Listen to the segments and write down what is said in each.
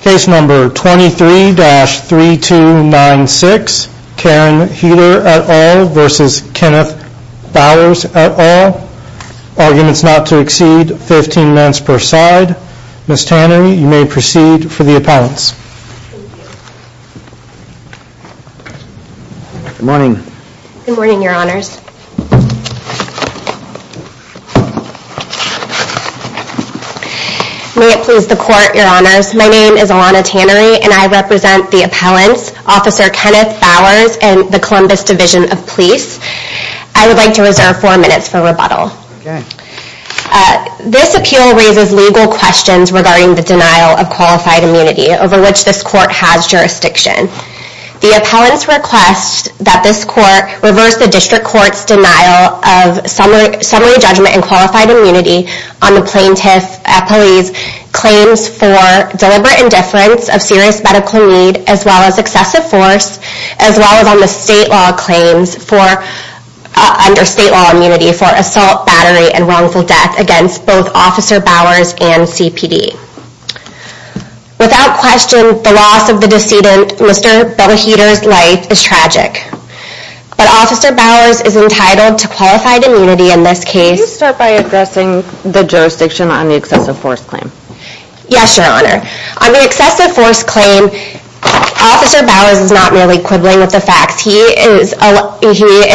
23-3296 Karen Heeter v. Kenneth Bowers My name is Alana Tannery and I represent the appellants, Officer Kenneth Bowers and the Columbus Division of Police. I would like to reserve four minutes for rebuttal. This appeal raises legal questions regarding the denial of qualified immunity over which this court has jurisdiction. The appellants request that this court reverse the district court's denial of summary judgment and qualified immunity on the plaintiff's claims for deliberate indifference of serious medical need as well as excessive force, as well as on the state law claims under state law immunity for assault, battery, and wrongful death against both Officer Bowers and CPD. Without question, the loss of the decedent, Mr. Ben Heeter's life is tragic, but Officer Bowers is not merely quibbling with the facts. He is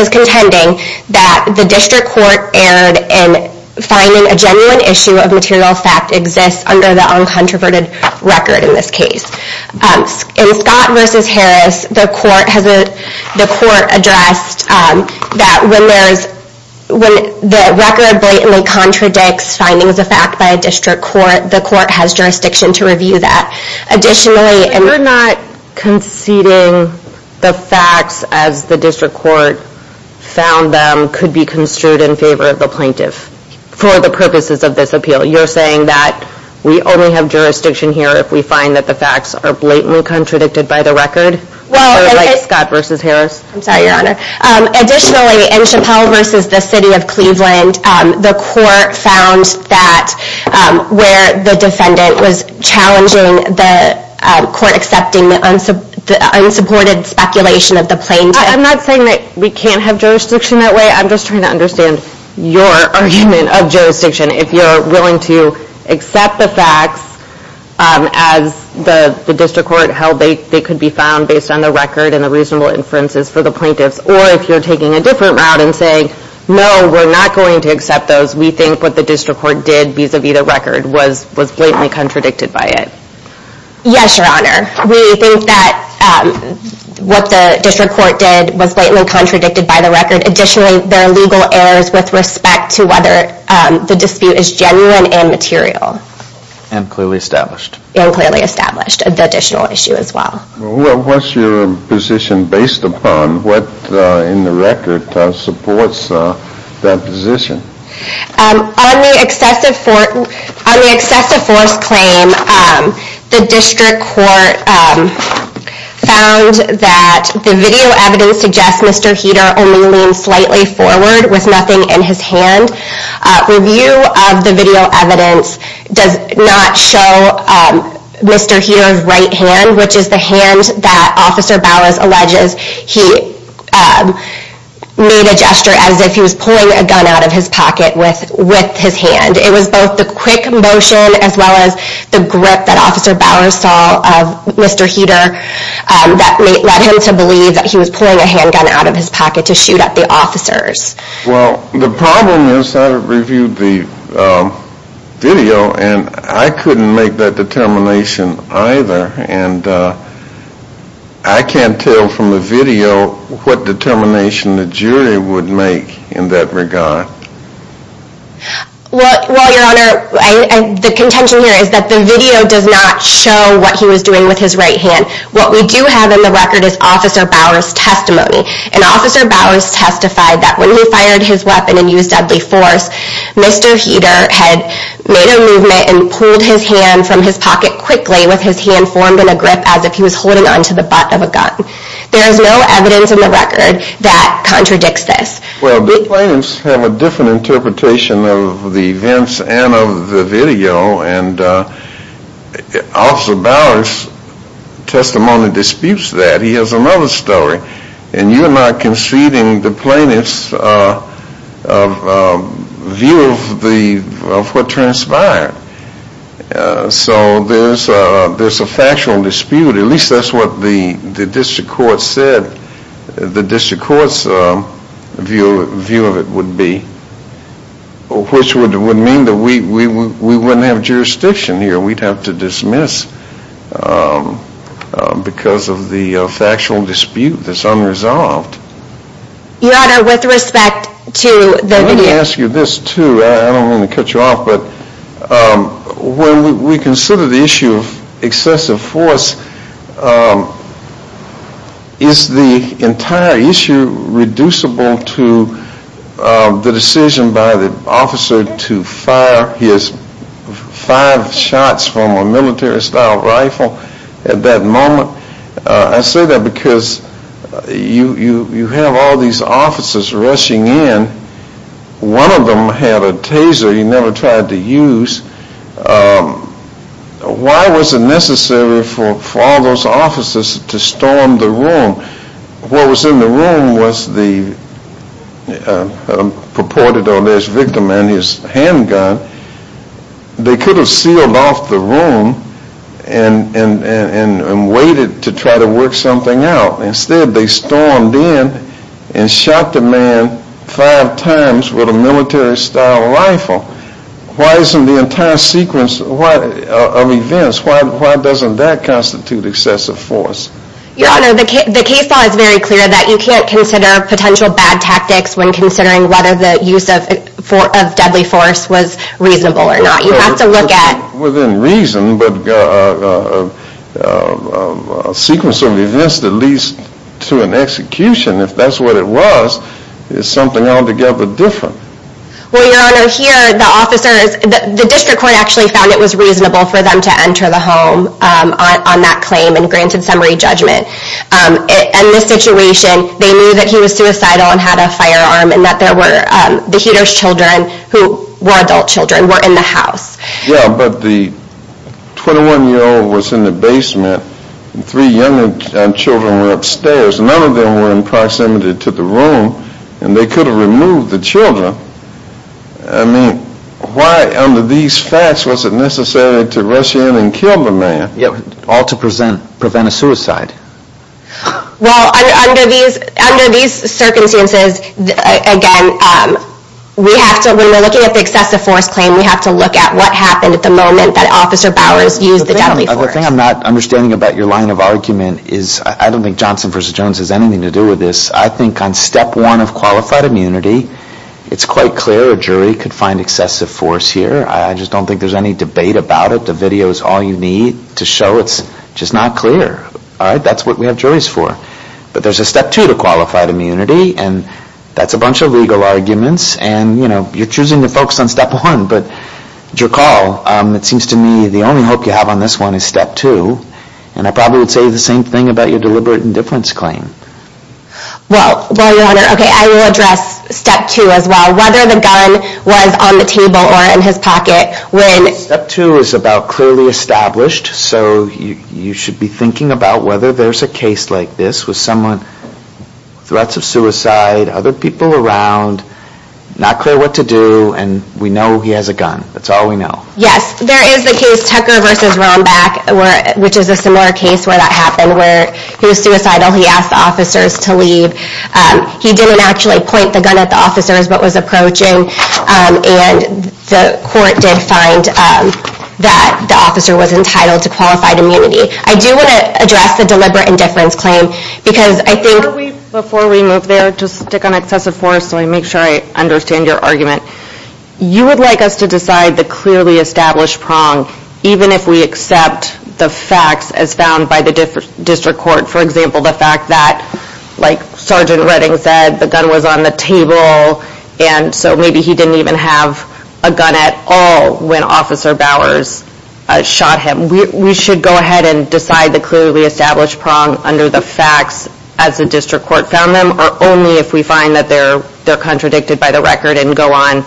contending that the district court error in finding a genuine issue of material fact exists under the uncontroverted record in this case. In Scott v. Harris, the court addressed that when the record blatantly contradicts findings of fact by a district court, the court has jurisdiction to review that. Additionally... You're not conceding the facts as the district court found them could be construed in favor of the plaintiff for the purposes of this appeal. You're saying that we only have jurisdiction here if we find that the facts are blatantly contradicted by the record? Well... Or like Scott v. Harris? I'm sorry, Your Honor. Additionally, in Chappelle v. The City of Cleveland, the court found that where the defendant was challenging the court accepting the unsupported speculation of the plaintiff... I'm not saying that we can't have jurisdiction that way, I'm just trying to understand your argument of jurisdiction. If you're willing to accept the facts as the district court held they could be found based on the record and the reasonable inferences for the plaintiffs, or if you're taking a different route and saying, no, we're not going to accept those, we think what the district court did vis-a-vis the record was blatantly contradicted by it. Yes, Your Honor. We think that what the district court did was blatantly contradicted by the record. Additionally, there are legal errors with respect to whether the dispute is genuine and material. And clearly established. And clearly established, the additional issue as well. Well, what's your position based upon what in the record supports that position? On the excessive force claim, the district court found that the video evidence suggests that Mr. Heater only leaned slightly forward with nothing in his hand. Review of the video evidence does not show Mr. Heater's right hand, which is the hand that Officer Bowers alleges he made a gesture as if he was pulling a gun out of his pocket with his hand. It was both the quick motion as well as the grip that Officer Bowers saw of Mr. Heater that led him to believe that he was pulling a handgun out of his pocket to shoot at the officers. Well, the problem is I reviewed the video and I couldn't make that determination either. And I can't tell from the video what determination the jury would make in that regard. Well, Your Honor, the contention here is that the video does not show what he was doing with his right hand. What we do have in the record is Officer Bowers' testimony. And Officer Bowers testified that when he fired his weapon and used deadly force, Mr. Heater had made a movement and pulled his hand from his pocket quickly with his hand formed in a grip as if he was holding onto the butt of a gun. There is no evidence in the record that contradicts this. Well, the claims have a different interpretation of the events and of the video. And Officer Bowers' testimony disputes that. He has another story. And you're not conceding the plaintiff's view of what transpired. So there's a factual dispute. At least that's what the district court said the district court's view of it would be. Which would mean that we wouldn't have jurisdiction here. We'd have to dismiss because of the factual dispute that's unresolved. Your Honor, with respect to the video. I'd like to ask you this, too. I don't want to cut you off, but when we consider the issue of excessive force, is the entire issue reducible to the decision by the officer to fire his five shots from a military-style rifle at that moment? I say that because you have all these officers rushing in. One of them had a taser he never tried to use. Why was it necessary for all those officers to storm the room? What was in the room was the purported or alleged victim and his handgun. They could have sealed off the room and waited to try to work something out. Instead, they stormed in and shot the man five times with a military-style rifle. Why isn't the entire sequence of events, why doesn't that constitute excessive force? Your Honor, the case law is very clear that you can't consider potential bad tactics when considering whether the use of deadly force was reasonable or not. You have to look at... Within reason, but a sequence of events that leads to an execution, if that's what it was, is something altogether different. Well, Your Honor, here the officers... The district court actually found it was reasonable for them to enter the home on that claim and granted summary judgment. In this situation, they knew that he was suicidal and had a firearm and that there were the Heater's children, who were adult children, were in the house. Yeah, but the 21-year-old was in the basement and three young children were upstairs. None of them were in proximity to the room and they could have removed the children. I mean, why under these facts was it necessary to rush in and kill the man? All to prevent a suicide. Well, under these circumstances, again, when we're looking at the excessive force claim, we have to look at what happened at the moment that Officer Bowers used the deadly force. The thing I'm not understanding about your line of argument is I don't think Johnson v. Jones has anything to do with this. I think on Step 1 of Qualified Immunity, it's quite clear a jury could find excessive force here. I just don't think there's any debate about it. The video is all you need to show it's just not clear. That's what we have juries for. But there's a Step 2 to Qualified Immunity and that's a bunch of legal arguments and you're choosing to focus on Step 1. But your call, it seems to me, the only hope you have on this one is Step 2. And I probably would say the same thing about your Deliberate Indifference claim. Well, Your Honor, I will address Step 2 as well. Whether the gun was on the table or in his pocket, Step 2 is about clearly established so you should be thinking about whether there's a case like this with threats of suicide, other people around, not clear what to do, and we know he has a gun. That's all we know. Yes, there is the case Tucker v. Rombach which is a similar case where that happened where he was suicidal, he asked the officers to leave. He didn't actually point the gun at the officers but was approaching and the court did find that the officer was entitled to Qualified Immunity. I do want to address the Deliberate Indifference claim because I think... Before we move there, just stick on excessive force so I make sure I understand your argument. You would like us to decide the clearly established prong even if we accept the facts as found by the district court for example, the fact that like Sergeant Redding said the gun was on the table and so maybe he didn't even have a gun at all when Officer Bowers shot him. We should go ahead and decide the clearly established prong under the facts as the district court found them or only if we find that they're contradicted by the record and go on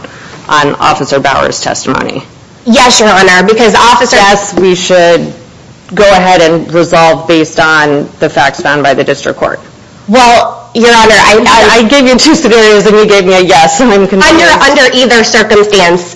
Officer Bowers' testimony. Yes, Your Honor, because Officer... Yes, we should go ahead and resolve based on the facts found by the district court. Well, Your Honor, I... I gave you two scenarios and you gave me a yes and I'm confused. Under either circumstance,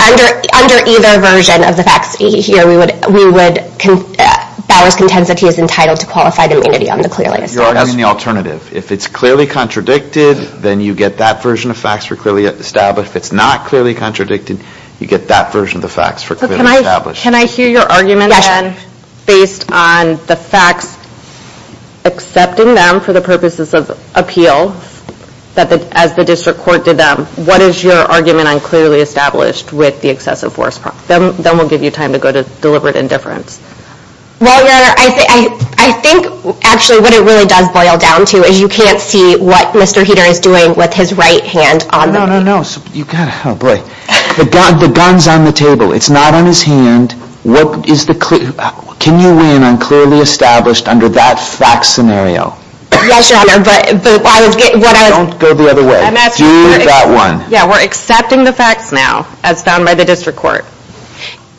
under either version of the facts here, we would... Bowers' contensity is entitled to Qualified Immunity on the clearly established... You're arguing the alternative. If it's clearly contradicted, then you get that version of facts for clearly established. If it's not clearly contradicted, you get that version of the facts for clearly established. But can I hear your argument then based on the facts accepting them for the purposes of appeal as the district court did them. What is your argument on clearly established with the excessive force prong? Then we'll give you time to go to deliberate indifference. Well, Your Honor, I think actually what it really does boil down to is you can't see what Mr. Heder is doing with his right hand on the... No, no, no, no. The gun's on the table. It's not on his hand. Can you win on clearly established under that facts scenario? Yes, Your Honor, but... Don't go the other way. Do that one. Yeah, we're accepting the facts now as found by the district court.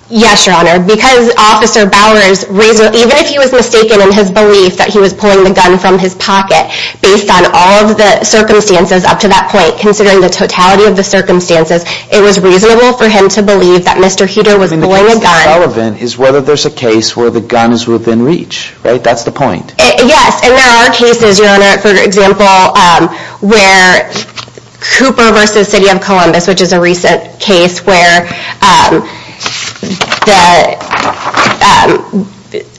Yes, Your Honor, because Officer Bowers even if he was mistaken in his belief that he was pulling the gun from his pocket based on all of the circumstances up to that point considering the totality of the circumstances it was reasonable for him to believe that Mr. Heder was pulling a gun. I mean, the case is relevant is whether there's a case where the gun is within reach. Right? That's the point. Yes, and there are cases, Your Honor, for example, where Cooper vs. City of Columbus which is a recent case where the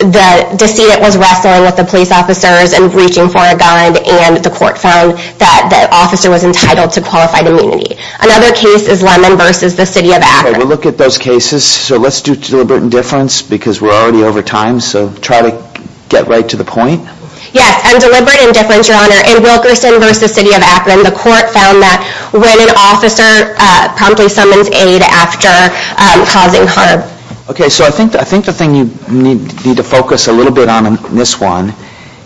the decedent was wrestling with the police officers and reaching for a gun and the court found that the officer was entitled to qualified immunity. Another case is Lemon vs. the City of Akron. Okay, we'll look at those cases. So let's do deliberate indifference because we're already over time so try to get right to the point. Yes, and deliberate indifference, Your Honor. In Wilkerson vs. City of Akron the court found that when an officer promptly summons aid after causing harm. Okay, so I think the thing you need to focus a little bit on in this one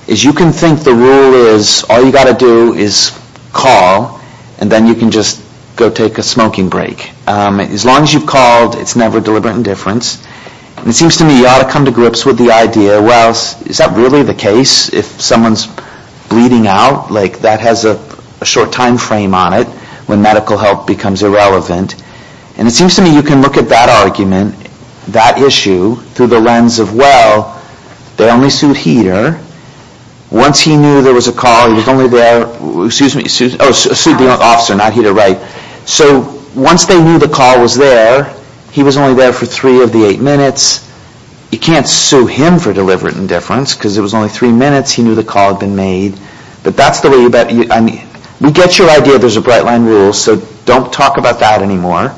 is you can think the rule is all you got to do is call and then you can just go take a smoking break. As long as you've called it's never deliberate indifference. It seems to me you ought to come to grips with the idea well, is that really the case if someone's bleeding out? Like that has a short timeframe on it when medical help becomes irrelevant and it seems to me you can look at that argument that issue through the lens of well, they only sued Heater once he knew there was a call he was only there oh, sued the officer not Heater Wright. So once they knew the call was there he was only there for three of the eight minutes you can't sue him for deliberate indifference because it was only three minutes he knew the call had been made but that's the way we get your idea there's a bright line rule so don't talk about that anymore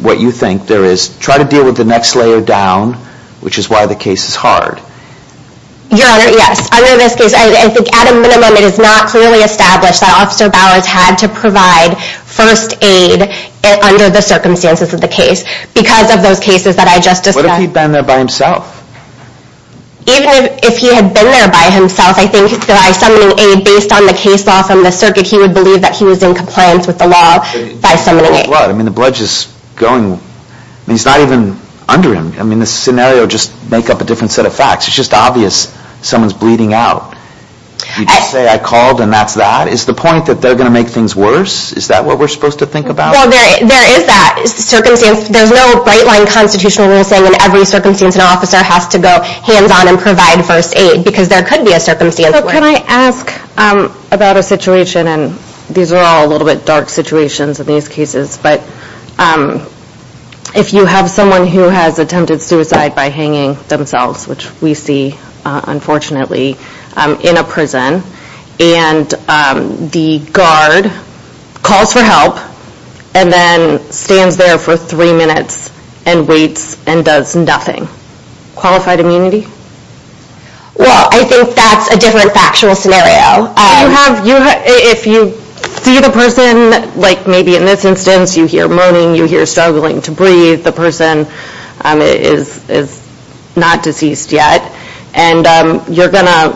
what you think there is try to deal with the next layer down which is why the case is hard Your Honor, yes at a minimum it is not clearly established that Officer Bowers had to provide first aid under the circumstances of the case because of those cases that I just discussed What if he'd been there by himself? Even if he had been there by himself I think by summoning aid based on the case law from the circuit he would believe that he was in compliance with the law by summoning aid I mean the blood just going he's not even under him I mean the scenario just make up a different set of facts it's just obvious someone's bleeding out You just say I called and that's that? Is the point that they're gonna make things worse? Is that what we're supposed to think about? Well there is that there's no bright line constitutional rule in every circumstance an officer has to go hands on and provide first aid because there could be a circumstance where Can I ask about a situation these are all a little bit dark situations in these cases if you have someone who has attempted suicide by hanging themselves which we see unfortunately in a prison and the guard calls for help and then stands there for three minutes and waits and does nothing qualified immunity? Well I think that's a different factual scenario If you see the person like maybe in this instance you hear moaning you hear struggling to breathe the person is not deceased yet and you're gonna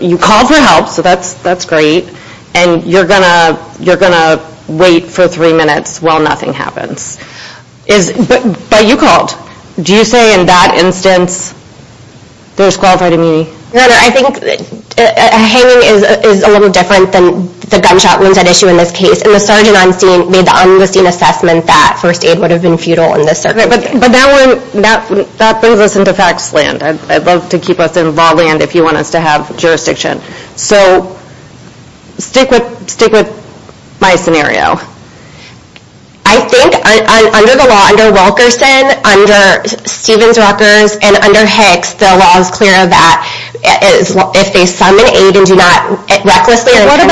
you call for help so that's great and you're gonna wait for three minutes while nothing happens but you called do you say in that instance there's qualified immunity? No no I think hanging is a little different than the gunshot wounds that issue in this case and the sergeant on scene made the on the scene assessment that first aid would have been futile in this circumstance. But that one that brings us into facts land I'd love to keep us in law land if you want us to have jurisdiction so stick with stick with my scenario I think under the law under Wilkerson under Stevens-Rutgers and under Hicks the law is clear that if they summon aid and do not recklessly What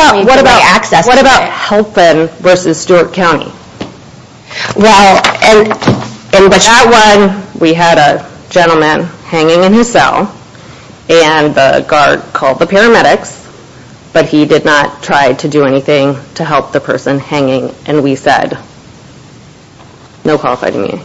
about helping versus Stewart County? Well in that one we had a gentleman hanging in his cell and the guard called the paramedics but he did not try to do and we said no qualified immunity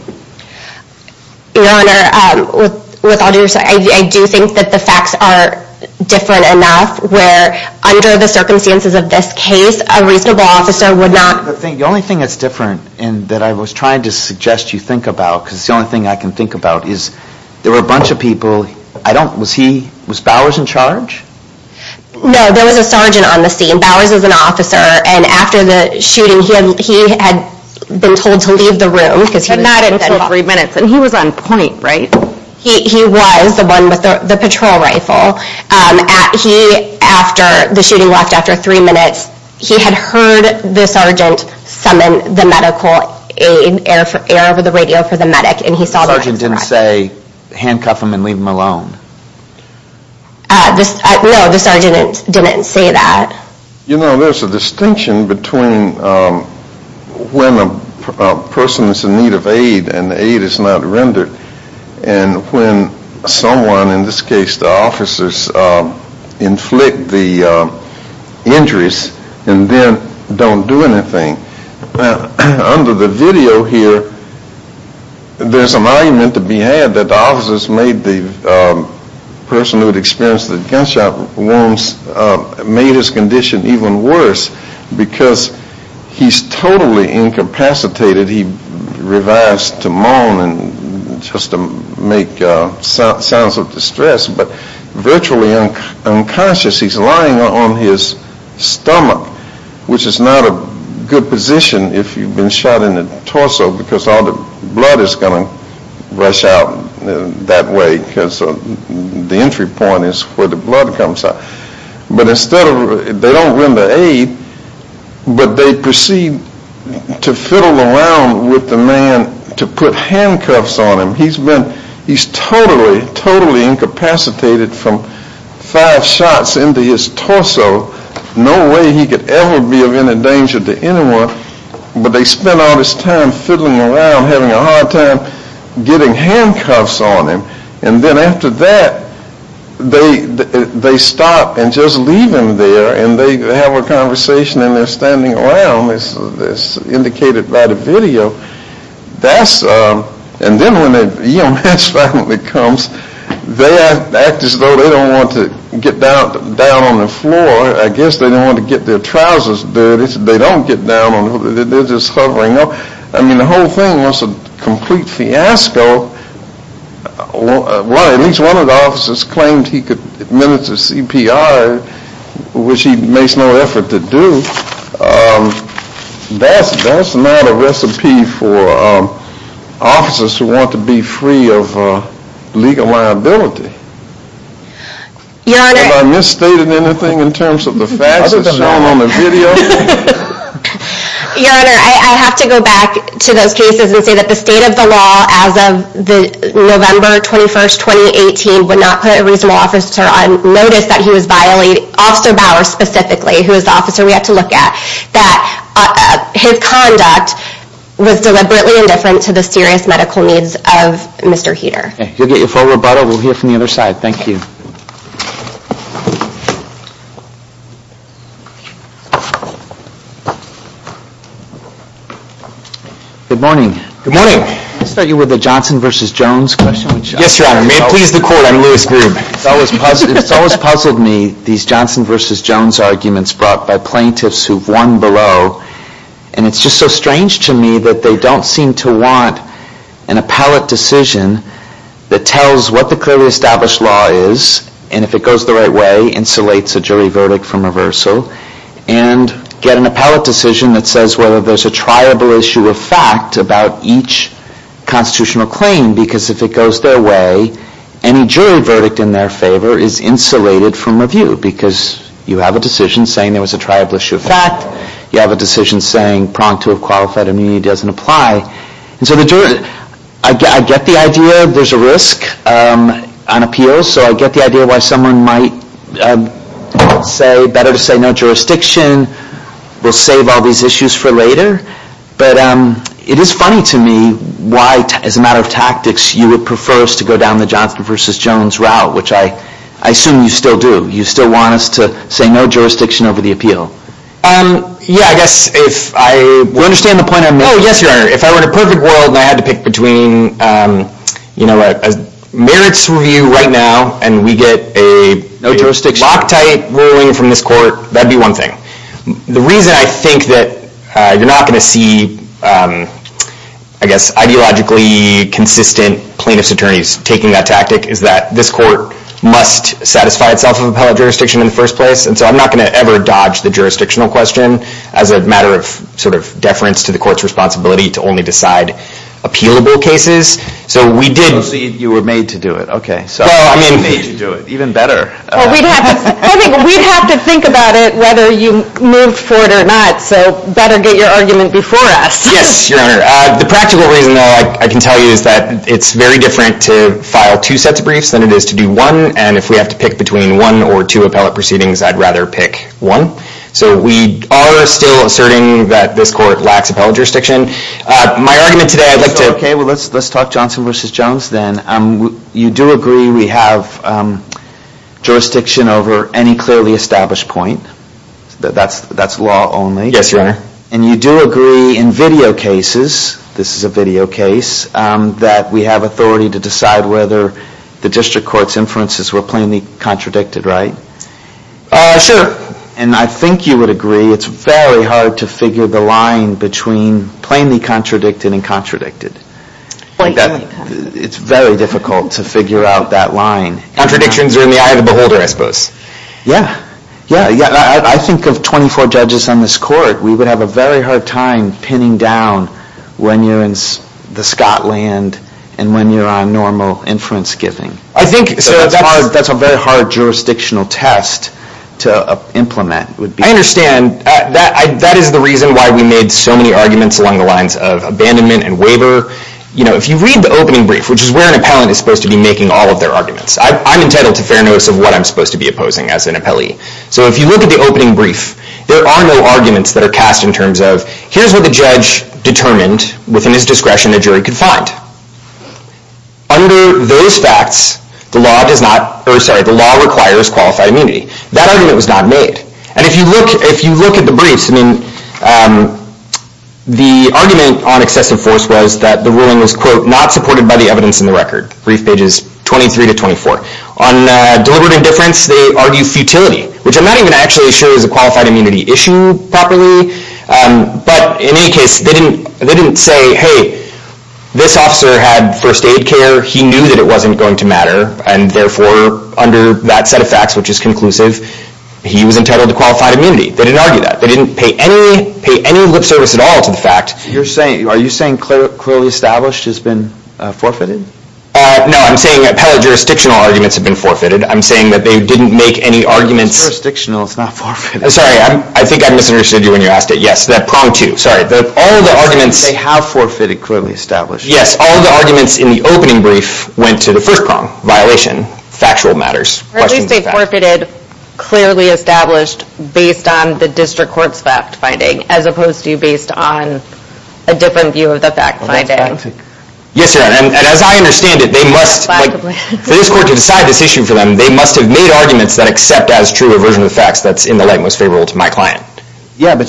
Your Honor with all due respect I do think that the facts are different enough where under the circumstances of this case a reasonable officer would not The only thing that's different and that I was trying to suggest you think about because it's the only thing I can think about is there were a bunch of people I don't was he was Bowers in charge? No there was a sergeant on the scene Bowers is an officer and after the shooting he had been told to leave the room because he was on point and he was on point right? He was the one with the patrol rifle after the shooting left after three minutes he had heard the sergeant summon the medical aid air over the radio for the medic and he saw that The sergeant didn't say handcuff him and leave him alone No the sergeant didn't say that You know there's a distinction between when a person is in need of aid and the aid is not rendered and when someone in this case the officers inflict the injuries and then don't do anything under the video here there's an argument to be had that the officers made the person who experienced the gunshot wounds made his condition even worse because he's totally incapacitated he revives to moan just to make sounds of distress but virtually unconscious he's lying on his stomach which is not a good position if you've been shot in the torso because all the blood is going to rush out that way because the entry point is where the blood comes out but instead they don't render aid but they proceed to fiddle around with the man to put handcuffs on him he's been he's totally totally incapacitated from five shots into his torso no way he could ever be of any danger to anyone but they spent all this time fiddling around having a hard time getting handcuffs on him and then after that they stop and just leave him there and they have a conversation and they're standing around as indicated by the video that's and then when the EMS finally comes they act as though they don't want to get down on the floor I guess they don't want to get their trousers dirty they don't get down on the floor I mean the whole thing was a complete fiasco at least one of the officers claimed he could administer CPR which he makes no effort to do that's that's not a recipe for officers who want to be free of legal liability have I misstated anything in terms of the facts that's shown on the video your honor I have to go back to those cases and say that the state of the law as of November 21st 2018 would not put a reasonable officer on notice that he was violating Officer Bauer specifically who is the officer we have to look at that his conduct was deliberately indifferent to the serious medical needs of Mr. Heater you'll get your full rebuttal we'll hear from the other side thank you good morning I'll start you with the Johnson vs. Jones question it's always puzzled me these Johnson vs. Jones arguments brought by plaintiffs who've won below and it's just so strange to me that they don't seem to want an appellate decision that tells what the clearly established law is and if it goes the right way insulates a jury verdict from reversal and get an appellate decision that says whether there's a triable issue of fact about each constitutional claim because if it goes their way any jury verdict in their favor is insulated from review because you have a decision saying there was a triable issue of fact you have a decision saying pronged to have qualified immunity doesn't apply I get the idea there's a risk on appeals so I get the idea why someone might say better to say no jurisdiction we'll save all these issues for later but it is funny to me why as a matter of tactics you would prefer us to go down the Johnson vs. Jones route which I assume you still do you still want us to say no jurisdiction over the appeal yeah I guess if I understand the point I'm making if I were in a perfect world and I had to pick between you know a merits review right now and we get a no jurisdiction loctite ruling from this court that'd be one thing the reason I think that you're not gonna see I guess ideologically consistent plaintiffs attorneys taking that tactic is that this court must satisfy itself of appellate jurisdiction in the first place and so I'm not gonna ever dodge the jurisdictional question as a matter of sort of deference to the courts responsibility to only decide appealable cases so we did you were made to do it okay even better I think we'd have to think about it whether you move forward or not so better get your argument before us the practical reason though I can tell you is that it's very different to file two sets of briefs than it is to do one and if we have to pick between one or two appellate proceedings I'd rather pick one so we are still asserting that this court lacks appellate jurisdiction my argument today let's talk Johnson vs. Jones you do agree we have jurisdiction over any clearly established point that's law only yes your honor and you do agree in video cases this is a video case that we have authority to decide whether the district court's inferences were plainly contradicted right sure and I think you would agree it's very hard to figure the line between plainly contradicted and contradicted it's very difficult to figure out that line contradictions are in the eye of the beholder I suppose yeah I think of 24 judges on this court we would have a very hard time pinning down when you're in the Scotland and when you're on normal inference giving I think so that's a very hard jurisdictional test to implement I understand that is the reason why we made so many arguments along the lines of abandonment and waiver if you read the opening brief which is where an appellant is supposed to be making all of their arguments I'm entitled to fair notice of what I'm supposed to be opposing as an appellee so if you look at the opening brief there are no arguments that are cast in terms of here's what the judge determined within his discretion a jury could find under those facts the law does not the law requires qualified immunity that argument was not made and if you look at the briefs I mean the argument on excessive force was that the ruling was quote not supported by the evidence in the record brief pages 23-24 on deliberate indifference they argue futility which I'm not even actually sure is a qualified immunity issue properly but in any case they didn't say hey this officer had first aid care he knew that it wasn't going to matter and therefore under that set of facts which is conclusive he was entitled to qualified immunity they didn't argue that they didn't pay any lip service at all to the fact are you saying clearly established has been forfeited? no I'm saying appellate jurisdictional arguments have been forfeited I'm saying that they didn't make any arguments jurisdictional is not forfeited sorry I think I misunderstood you when you asked it yes that prong too sorry they have forfeited clearly established yes all the arguments in the opening brief went to the first prong violation factual matters or at least they forfeited clearly established based on the district court's fact finding as opposed to based on a different view of the fact finding yes your honor and as I understand it they must for this court to decide this issue for them they must have made arguments that accept as true a version of the facts that's in the light most favorable to my client well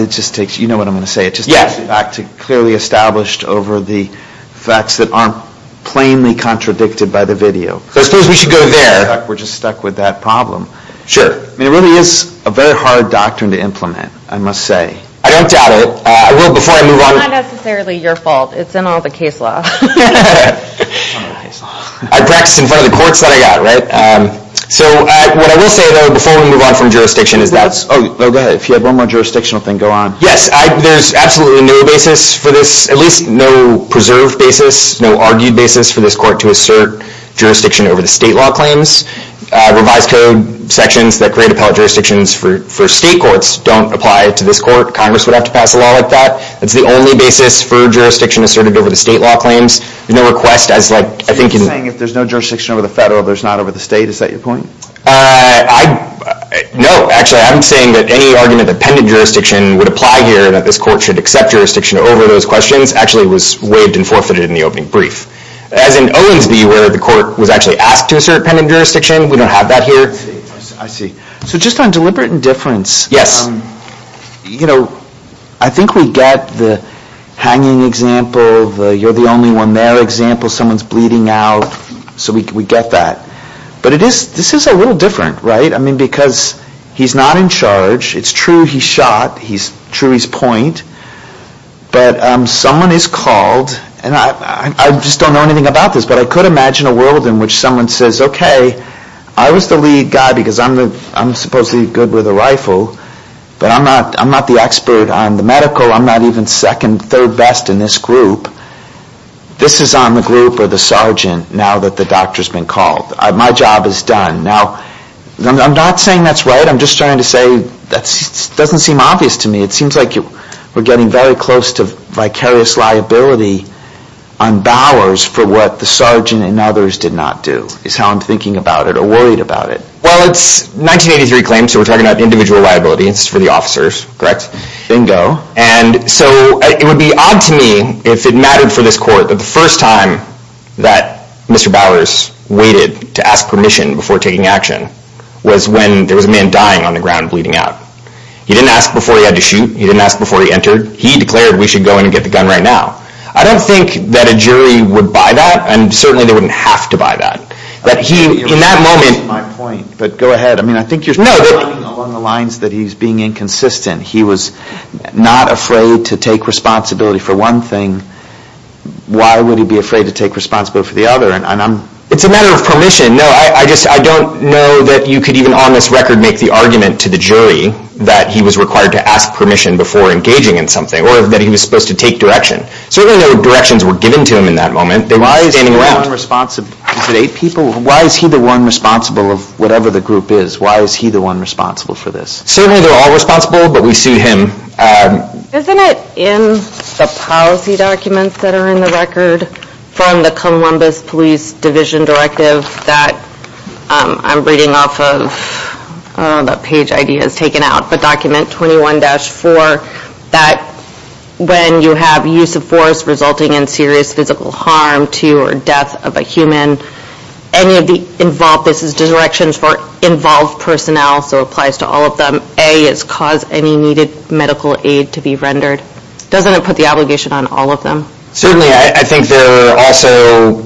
it just takes you know what I'm going to say it just takes the fact clearly established over the facts that aren't plainly contradicted by the video so I suppose we should go there we're just stuck with that problem sure I mean it really is a very hard doctrine to implement I must say I don't doubt it I will before I move on it's not necessarily your fault it's in all the case law I practice in front of the courts that I got right so what I will say though before we move on from jurisdiction is that's oh go ahead if you have one more jurisdictional thing go on yes I there's absolutely no basis for this at least no preserved basis no argued basis for this court to assert jurisdiction over the state law claims revised code sections that create appellate jurisdictions for state courts don't apply to this court congress would have to pass a law like that it's the only basis for jurisdiction asserted over the state law claims so you're saying if there's no jurisdiction over the federal there's not over the state is that your point I no actually I'm saying that any argument that pendent jurisdiction would apply here that this court should accept jurisdiction over those questions actually was waived and forfeited in the opening brief as in Owens v. Ware the court was actually asked to assert pendent jurisdiction we don't have that here I see so just on deliberate indifference yes I think we get the hanging example you're the only one there example someone's bleeding out so we get that but it is this is a little different right I mean because he's not in charge it's true he shot he's true he's point but someone is called and I just don't know anything about this but I could imagine a world in which someone says okay I was the lead guy because I'm the I'm supposedly good with a rifle but I'm not I'm not the expert on the medical I'm not even second third best in this group this is on the group or the sergeant now that the doctor's been called my job is done now I'm not saying that's right I'm just trying to say that doesn't seem obvious to me it seems like you were getting very close to vicarious liability on Bowers for what the sergeant and others did not do is how I'm thinking about it or worried about it well it's 1983 claims so we're talking about individual liability it's for the officers correct and so it would be odd to me if it mattered for this court that the first time that Mr. Bowers waited to ask permission before taking action was when there was a man dying on the ground bleeding out he didn't ask before he had to shoot he didn't ask before he entered he declared we should go and get the gun right now I don't think that a jury would buy that and certainly they wouldn't have to buy that but he in that moment but go ahead I mean I think you're along the lines that he's being inconsistent he was not afraid to take responsibility for one thing why would he be afraid to take responsibility for the other and I'm it's a matter of permission no I just I don't know that you could even on this record make the argument to the jury that he was required to ask permission before engaging in something or that he was supposed to take direction certainly directions were given to him in that moment why is he the one responsible why is he the one responsible of whatever the group is why is he the one responsible for this certainly they're all responsible but we sue him isn't it in the policy documents that are in the record from the Columbus Police Division Directive that I'm reading off of that page ID has taken out but document 21-4 that when you have use of force resulting in serious physical harm to or death of a human any of the involved this is directions for involved personnel so applies to all of them A is cause any needed medical aid to be rendered doesn't it put the obligation on all of them certainly I think there are also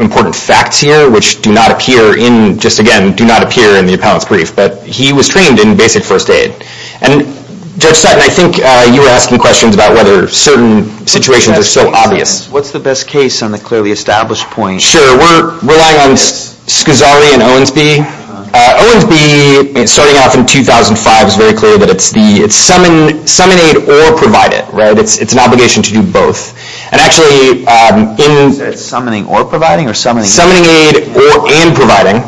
important facts here which do not appear in just again do not appear in the appellant's brief but he was trained in basic first aid and Judge Sutton I think you were asking questions about whether certain situations are so obvious. What's the best case on the clearly established point? Sure we're relying on Scazzari and Owensby. Owensby starting off in 2005 is very clear that it's summon aid or provide it right it's an obligation to do both and actually in summoning or providing or summoning aid or and providing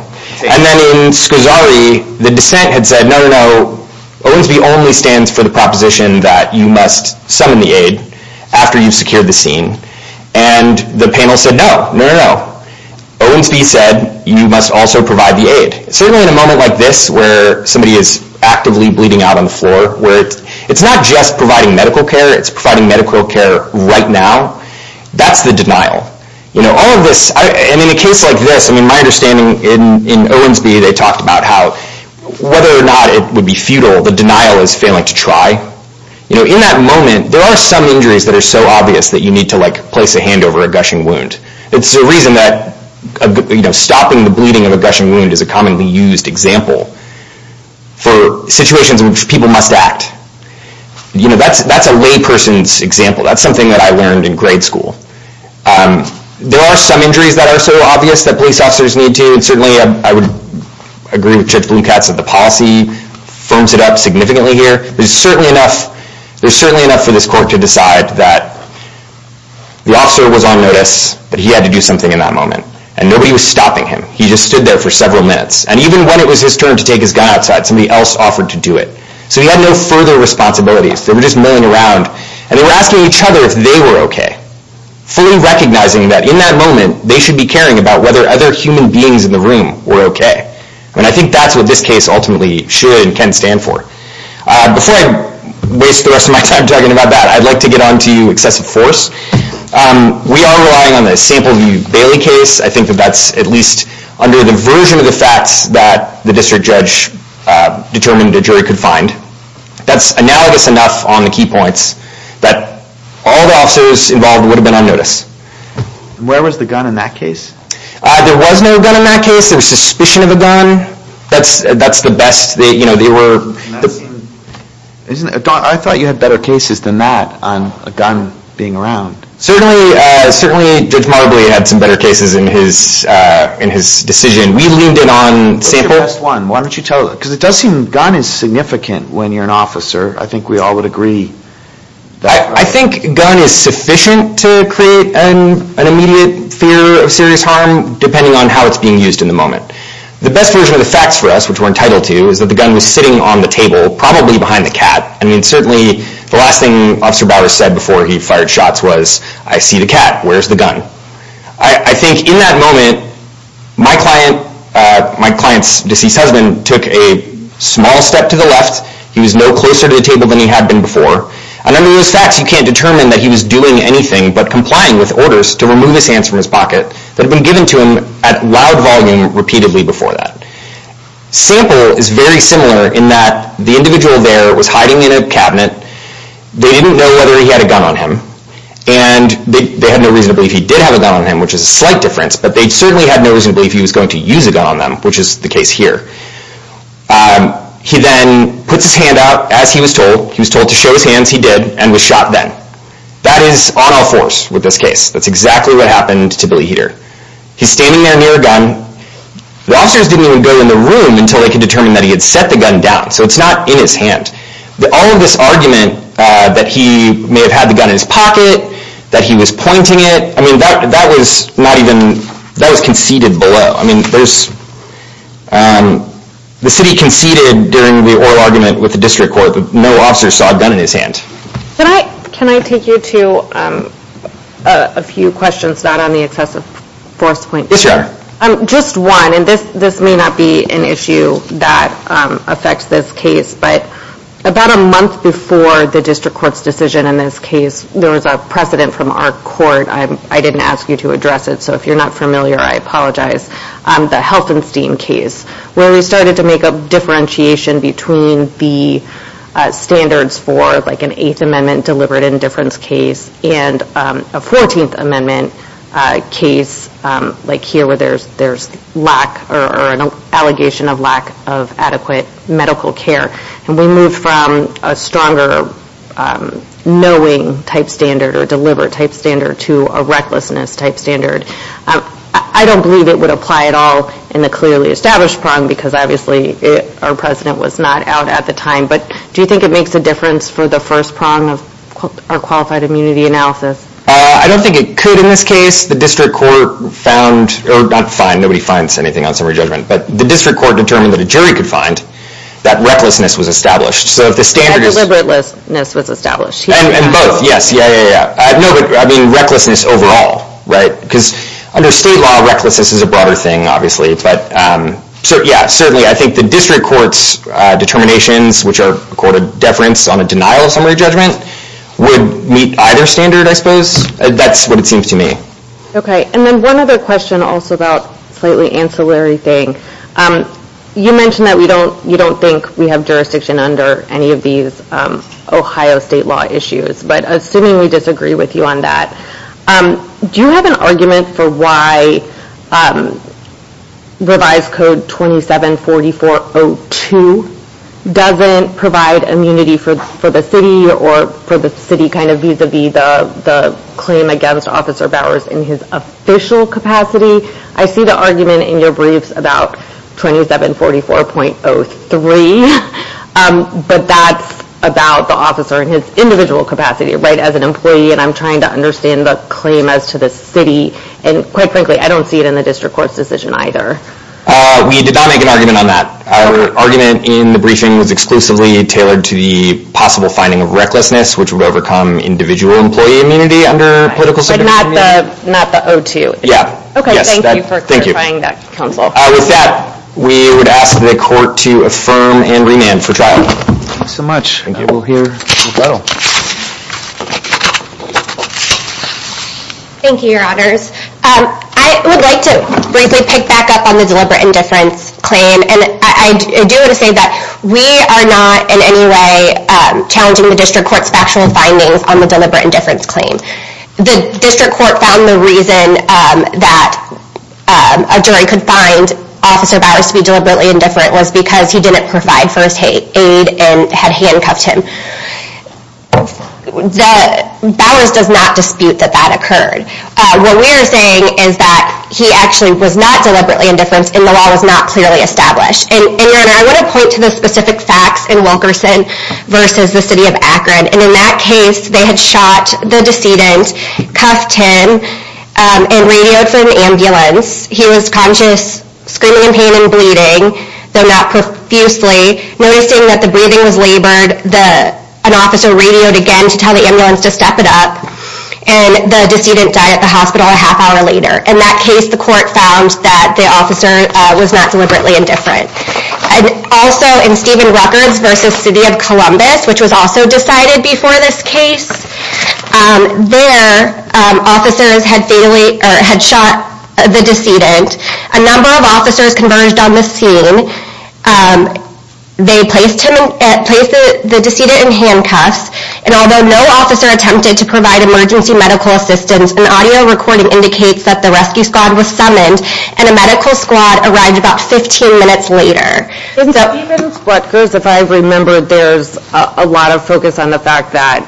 and then in Scazzari the dissent had said no no Owensby only stands for the proposition that you must summon the aid after you've secured the scene and the panel said no no no Owensby said you must also provide the aid certainly in a moment like this where somebody is actively bleeding out on the floor where it's not just providing medical care it's providing medical care right now that's the denial in a case like this my understanding in Owensby they talked about how whether or not it would be futile the denial is failing to try in that moment there are some injuries that are so obvious that you need to place a hand over a gushing wound it's the reason that stopping the bleeding of a gushing wound is a commonly used example for situations in which people must act that's a lay person's example that's something that I learned in grade school there are some injuries that are so obvious that police officers need to and certainly I would agree with Judge Blumkatz that the policy firms it up significantly here there's certainly enough for this court to decide that the officer was on notice but he had to do something in that moment and nobody was stopping him he just stood there for several minutes and even when it was his turn to take his gun outside somebody else offered to do it so he had no further responsibilities they were just milling around and they were asking each other if they were okay fully recognizing that in that moment they should be caring about whether other human beings in the room were okay and I think that's what this case ultimately should and can stand for before I waste the rest of my time talking about that I'd like to get on to excessive force we are relying on the Sample v. Bailey case I think that's at least under the version of the facts that the district judge determined the jury could find that's analogous enough on the key points that all the officers involved would have been on notice where was the gun in that case? there was no gun in that case there was suspicion of a gun that's the best I thought you had better cases than that on a gun being around certainly Judge Marbley had some better cases in his decision we leaned in on why don't you tell us because it does seem gun is significant when you're an officer I think we all would agree I think gun is sufficient to create an immediate fear of serious harm depending on how it's being used in the moment the best version of the facts for us which we're entitled to is that the gun was sitting on the table probably behind the cat certainly the last thing Officer Bowers said before he fired shots was I see the cat, where's the gun I think in that moment my client my client's deceased husband took a small step to the left he was no closer to the table than he had been before and under those facts you can't determine that he was doing anything but complying with orders to remove his hands from his pocket that had been given to him at loud volume repeatedly before that sample is very similar in that the individual there was hiding in a cabinet they didn't know whether he had a gun on him and they had no reason to believe he did have a gun on him which is a slight difference but they certainly had no reason to believe he was going to use a gun on them which is the case here he then puts his hand out as he was told he was told to show his hands he did and was shot then that is on all fours with this case that's exactly what happened to Billy Heater he's standing there near a gun the officers didn't even go in the room until they could determine that he had set the gun down so it's not in his hand all of this argument that he may have had the gun in his pocket that he was pointing it that was not even that was conceded below the city conceded during the oral argument with the district court that no officers saw a gun in his hand can I take you to a few questions not on the excessive force point just one and this may not be an issue that affects this case but about a month before the district court's decision there was a precedent from our court I didn't ask you to address it so if you're not familiar I apologize the Helfenstein case where we started to make a differentiation between the standards for like an 8th amendment deliberate indifference case and a 14th amendment case like here where there's lack or an allegation of lack of adequate medical care and we moved from a stronger knowing type standard or deliberate type standard to a recklessness type standard I don't believe it would apply at all in the clearly established prong because obviously our president was not out at the time but do you think it makes a difference for the first prong of our qualified immunity analysis I don't think it could in this case the district court found not find, nobody finds anything on summary judgment but the district court determined that a jury could find that recklessness was established and both yes, yeah, yeah, yeah recklessness overall under state law recklessness is a broader thing obviously but certainly I think the district court's determinations which are deference on a denial of summary judgment would meet either standard I suppose that's what it seems to me okay and then one other question also about slightly ancillary thing you mentioned that you don't think we have jurisdiction under any of these Ohio state law issues but assuming we disagree with you on that do you have an argument for why revised code 27 4402 doesn't provide immunity for the city or for the city kind of vis-a-vis the claim against officer Bowers in his official capacity I see the argument in your brief about 27 44 .03 but that's about the officer in his individual capacity right as an employee and I'm trying to understand the claim as to the city and quite frankly I don't see it in the district court's decision either we did not make an argument on that our argument in the briefing was exclusively tailored to the possible finding of recklessness which would overcome individual employee immunity under political not the 02 okay thank you for clarifying that with that we would ask the court to affirm and remand for trial thank you so much thank you your honors I would like to pick back up on the deliberate indifference claim and I do want to say that we are not in any way challenging the district court's factual findings on the deliberate indifference claim the district court found the reason that a jury could find officer Bowers to be deliberately indifferent was because he didn't provide first aid and had handcuffed him Bowers does not dispute that that occurred what we are saying is that he actually was not deliberately indifference and the law was not clearly established and your honor I want to point to the specific facts in Wilkerson versus the city of Akron and in that case they had shot the decedent cuffed him and radioed for an ambulance he was conscious screaming in pain and bleeding though not profusely noticing that the breathing was labored an officer radioed again to tell the ambulance to step it up and the decedent died at the hospital a half hour later in that case the court found that the officer was not deliberately indifferent and also in Stephen records versus city of Columbus which was also decided before this case there officers had shot the decedent a number of officers converged on the scene they placed him the decedent in handcuffs and although no officer attempted to provide emergency medical assistance an audio recording indicates that the rescue squad was summoned and a medical squad arrived about 15 minutes later even what goes if I remember there's a lot of focus on the fact that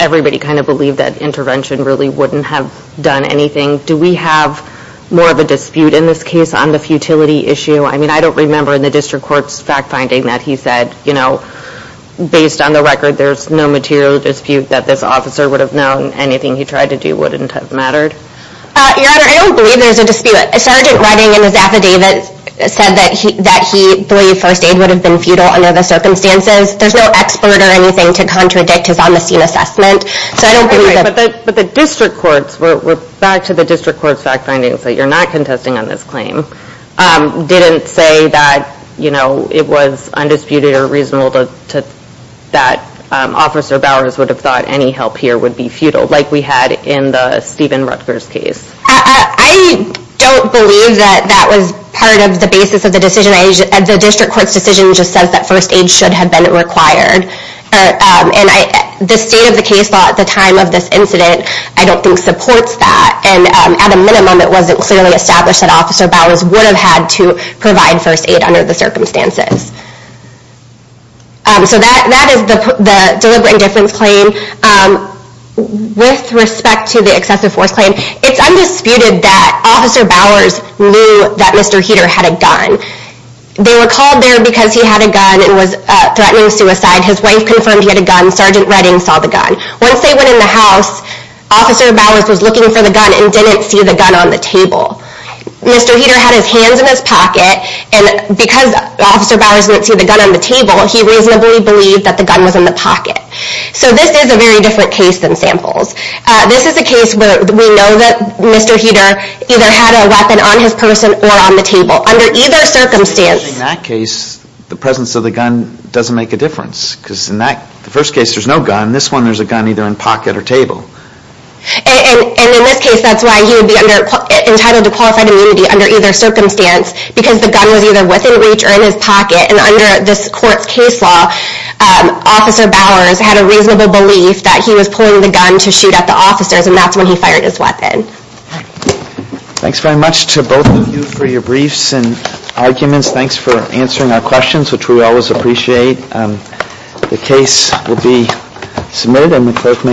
everybody kind of believed that intervention really wouldn't have done anything do we have more of a dispute in this case on the futility issue I mean I don't remember in the district court fact finding that he said you know based on the record there's no material dispute that this officer would have known anything he tried to do wouldn't have mattered your honor I don't believe there's a dispute sergeant writing in his affidavit said that he believed first aid would have been futile under the circumstances there's no expert or anything to contradict his on the scene assessment but the district courts were back to the district courts fact findings that you're not contesting on this claim didn't say that you know it was undisputed or reasonable that officer Bowers would have thought any help here would be futile like we had in the Steven Rutgers case I don't believe that that was part of the basis of the decision the district court's decision just says that first aid should have been required and the state of the case law at the time of this incident I don't think supports that and at a minimum it wasn't clearly established that officer Bowers would have had to provide first aid under the circumstances so that is the deliberate indifference claim with respect to the excessive force claim it's undisputed that officer Bowers knew that Mr. Heater had a gun they were called there because he had a gun and was threatening suicide his wife confirmed he had a gun sergeant Redding saw the gun once they went in the house officer Bowers was looking for the gun and didn't see the gun on the table Mr. Heater had his hands in his pocket and because officer Bowers didn't see the gun on the table he reasonably believed that the gun was in the pocket so this is a very different case than samples this is a case where we know that Mr. Heater either had a weapon on his person or on the table under either circumstance in that case the presence of the gun doesn't make a difference because in that first case there's no gun in this one there's a gun either in pocket or table and in this case that's why he would be entitled to qualified immunity under either circumstance because the gun was either within reach or in his pocket and under this court's case law officer Bowers had a reasonable belief that he was pulling the gun to shoot at the officers and that's when he fired his weapon Thanks very much to both of you for your briefs and arguments thanks for answering our questions which we always appreciate the case will be submitted and the clerk may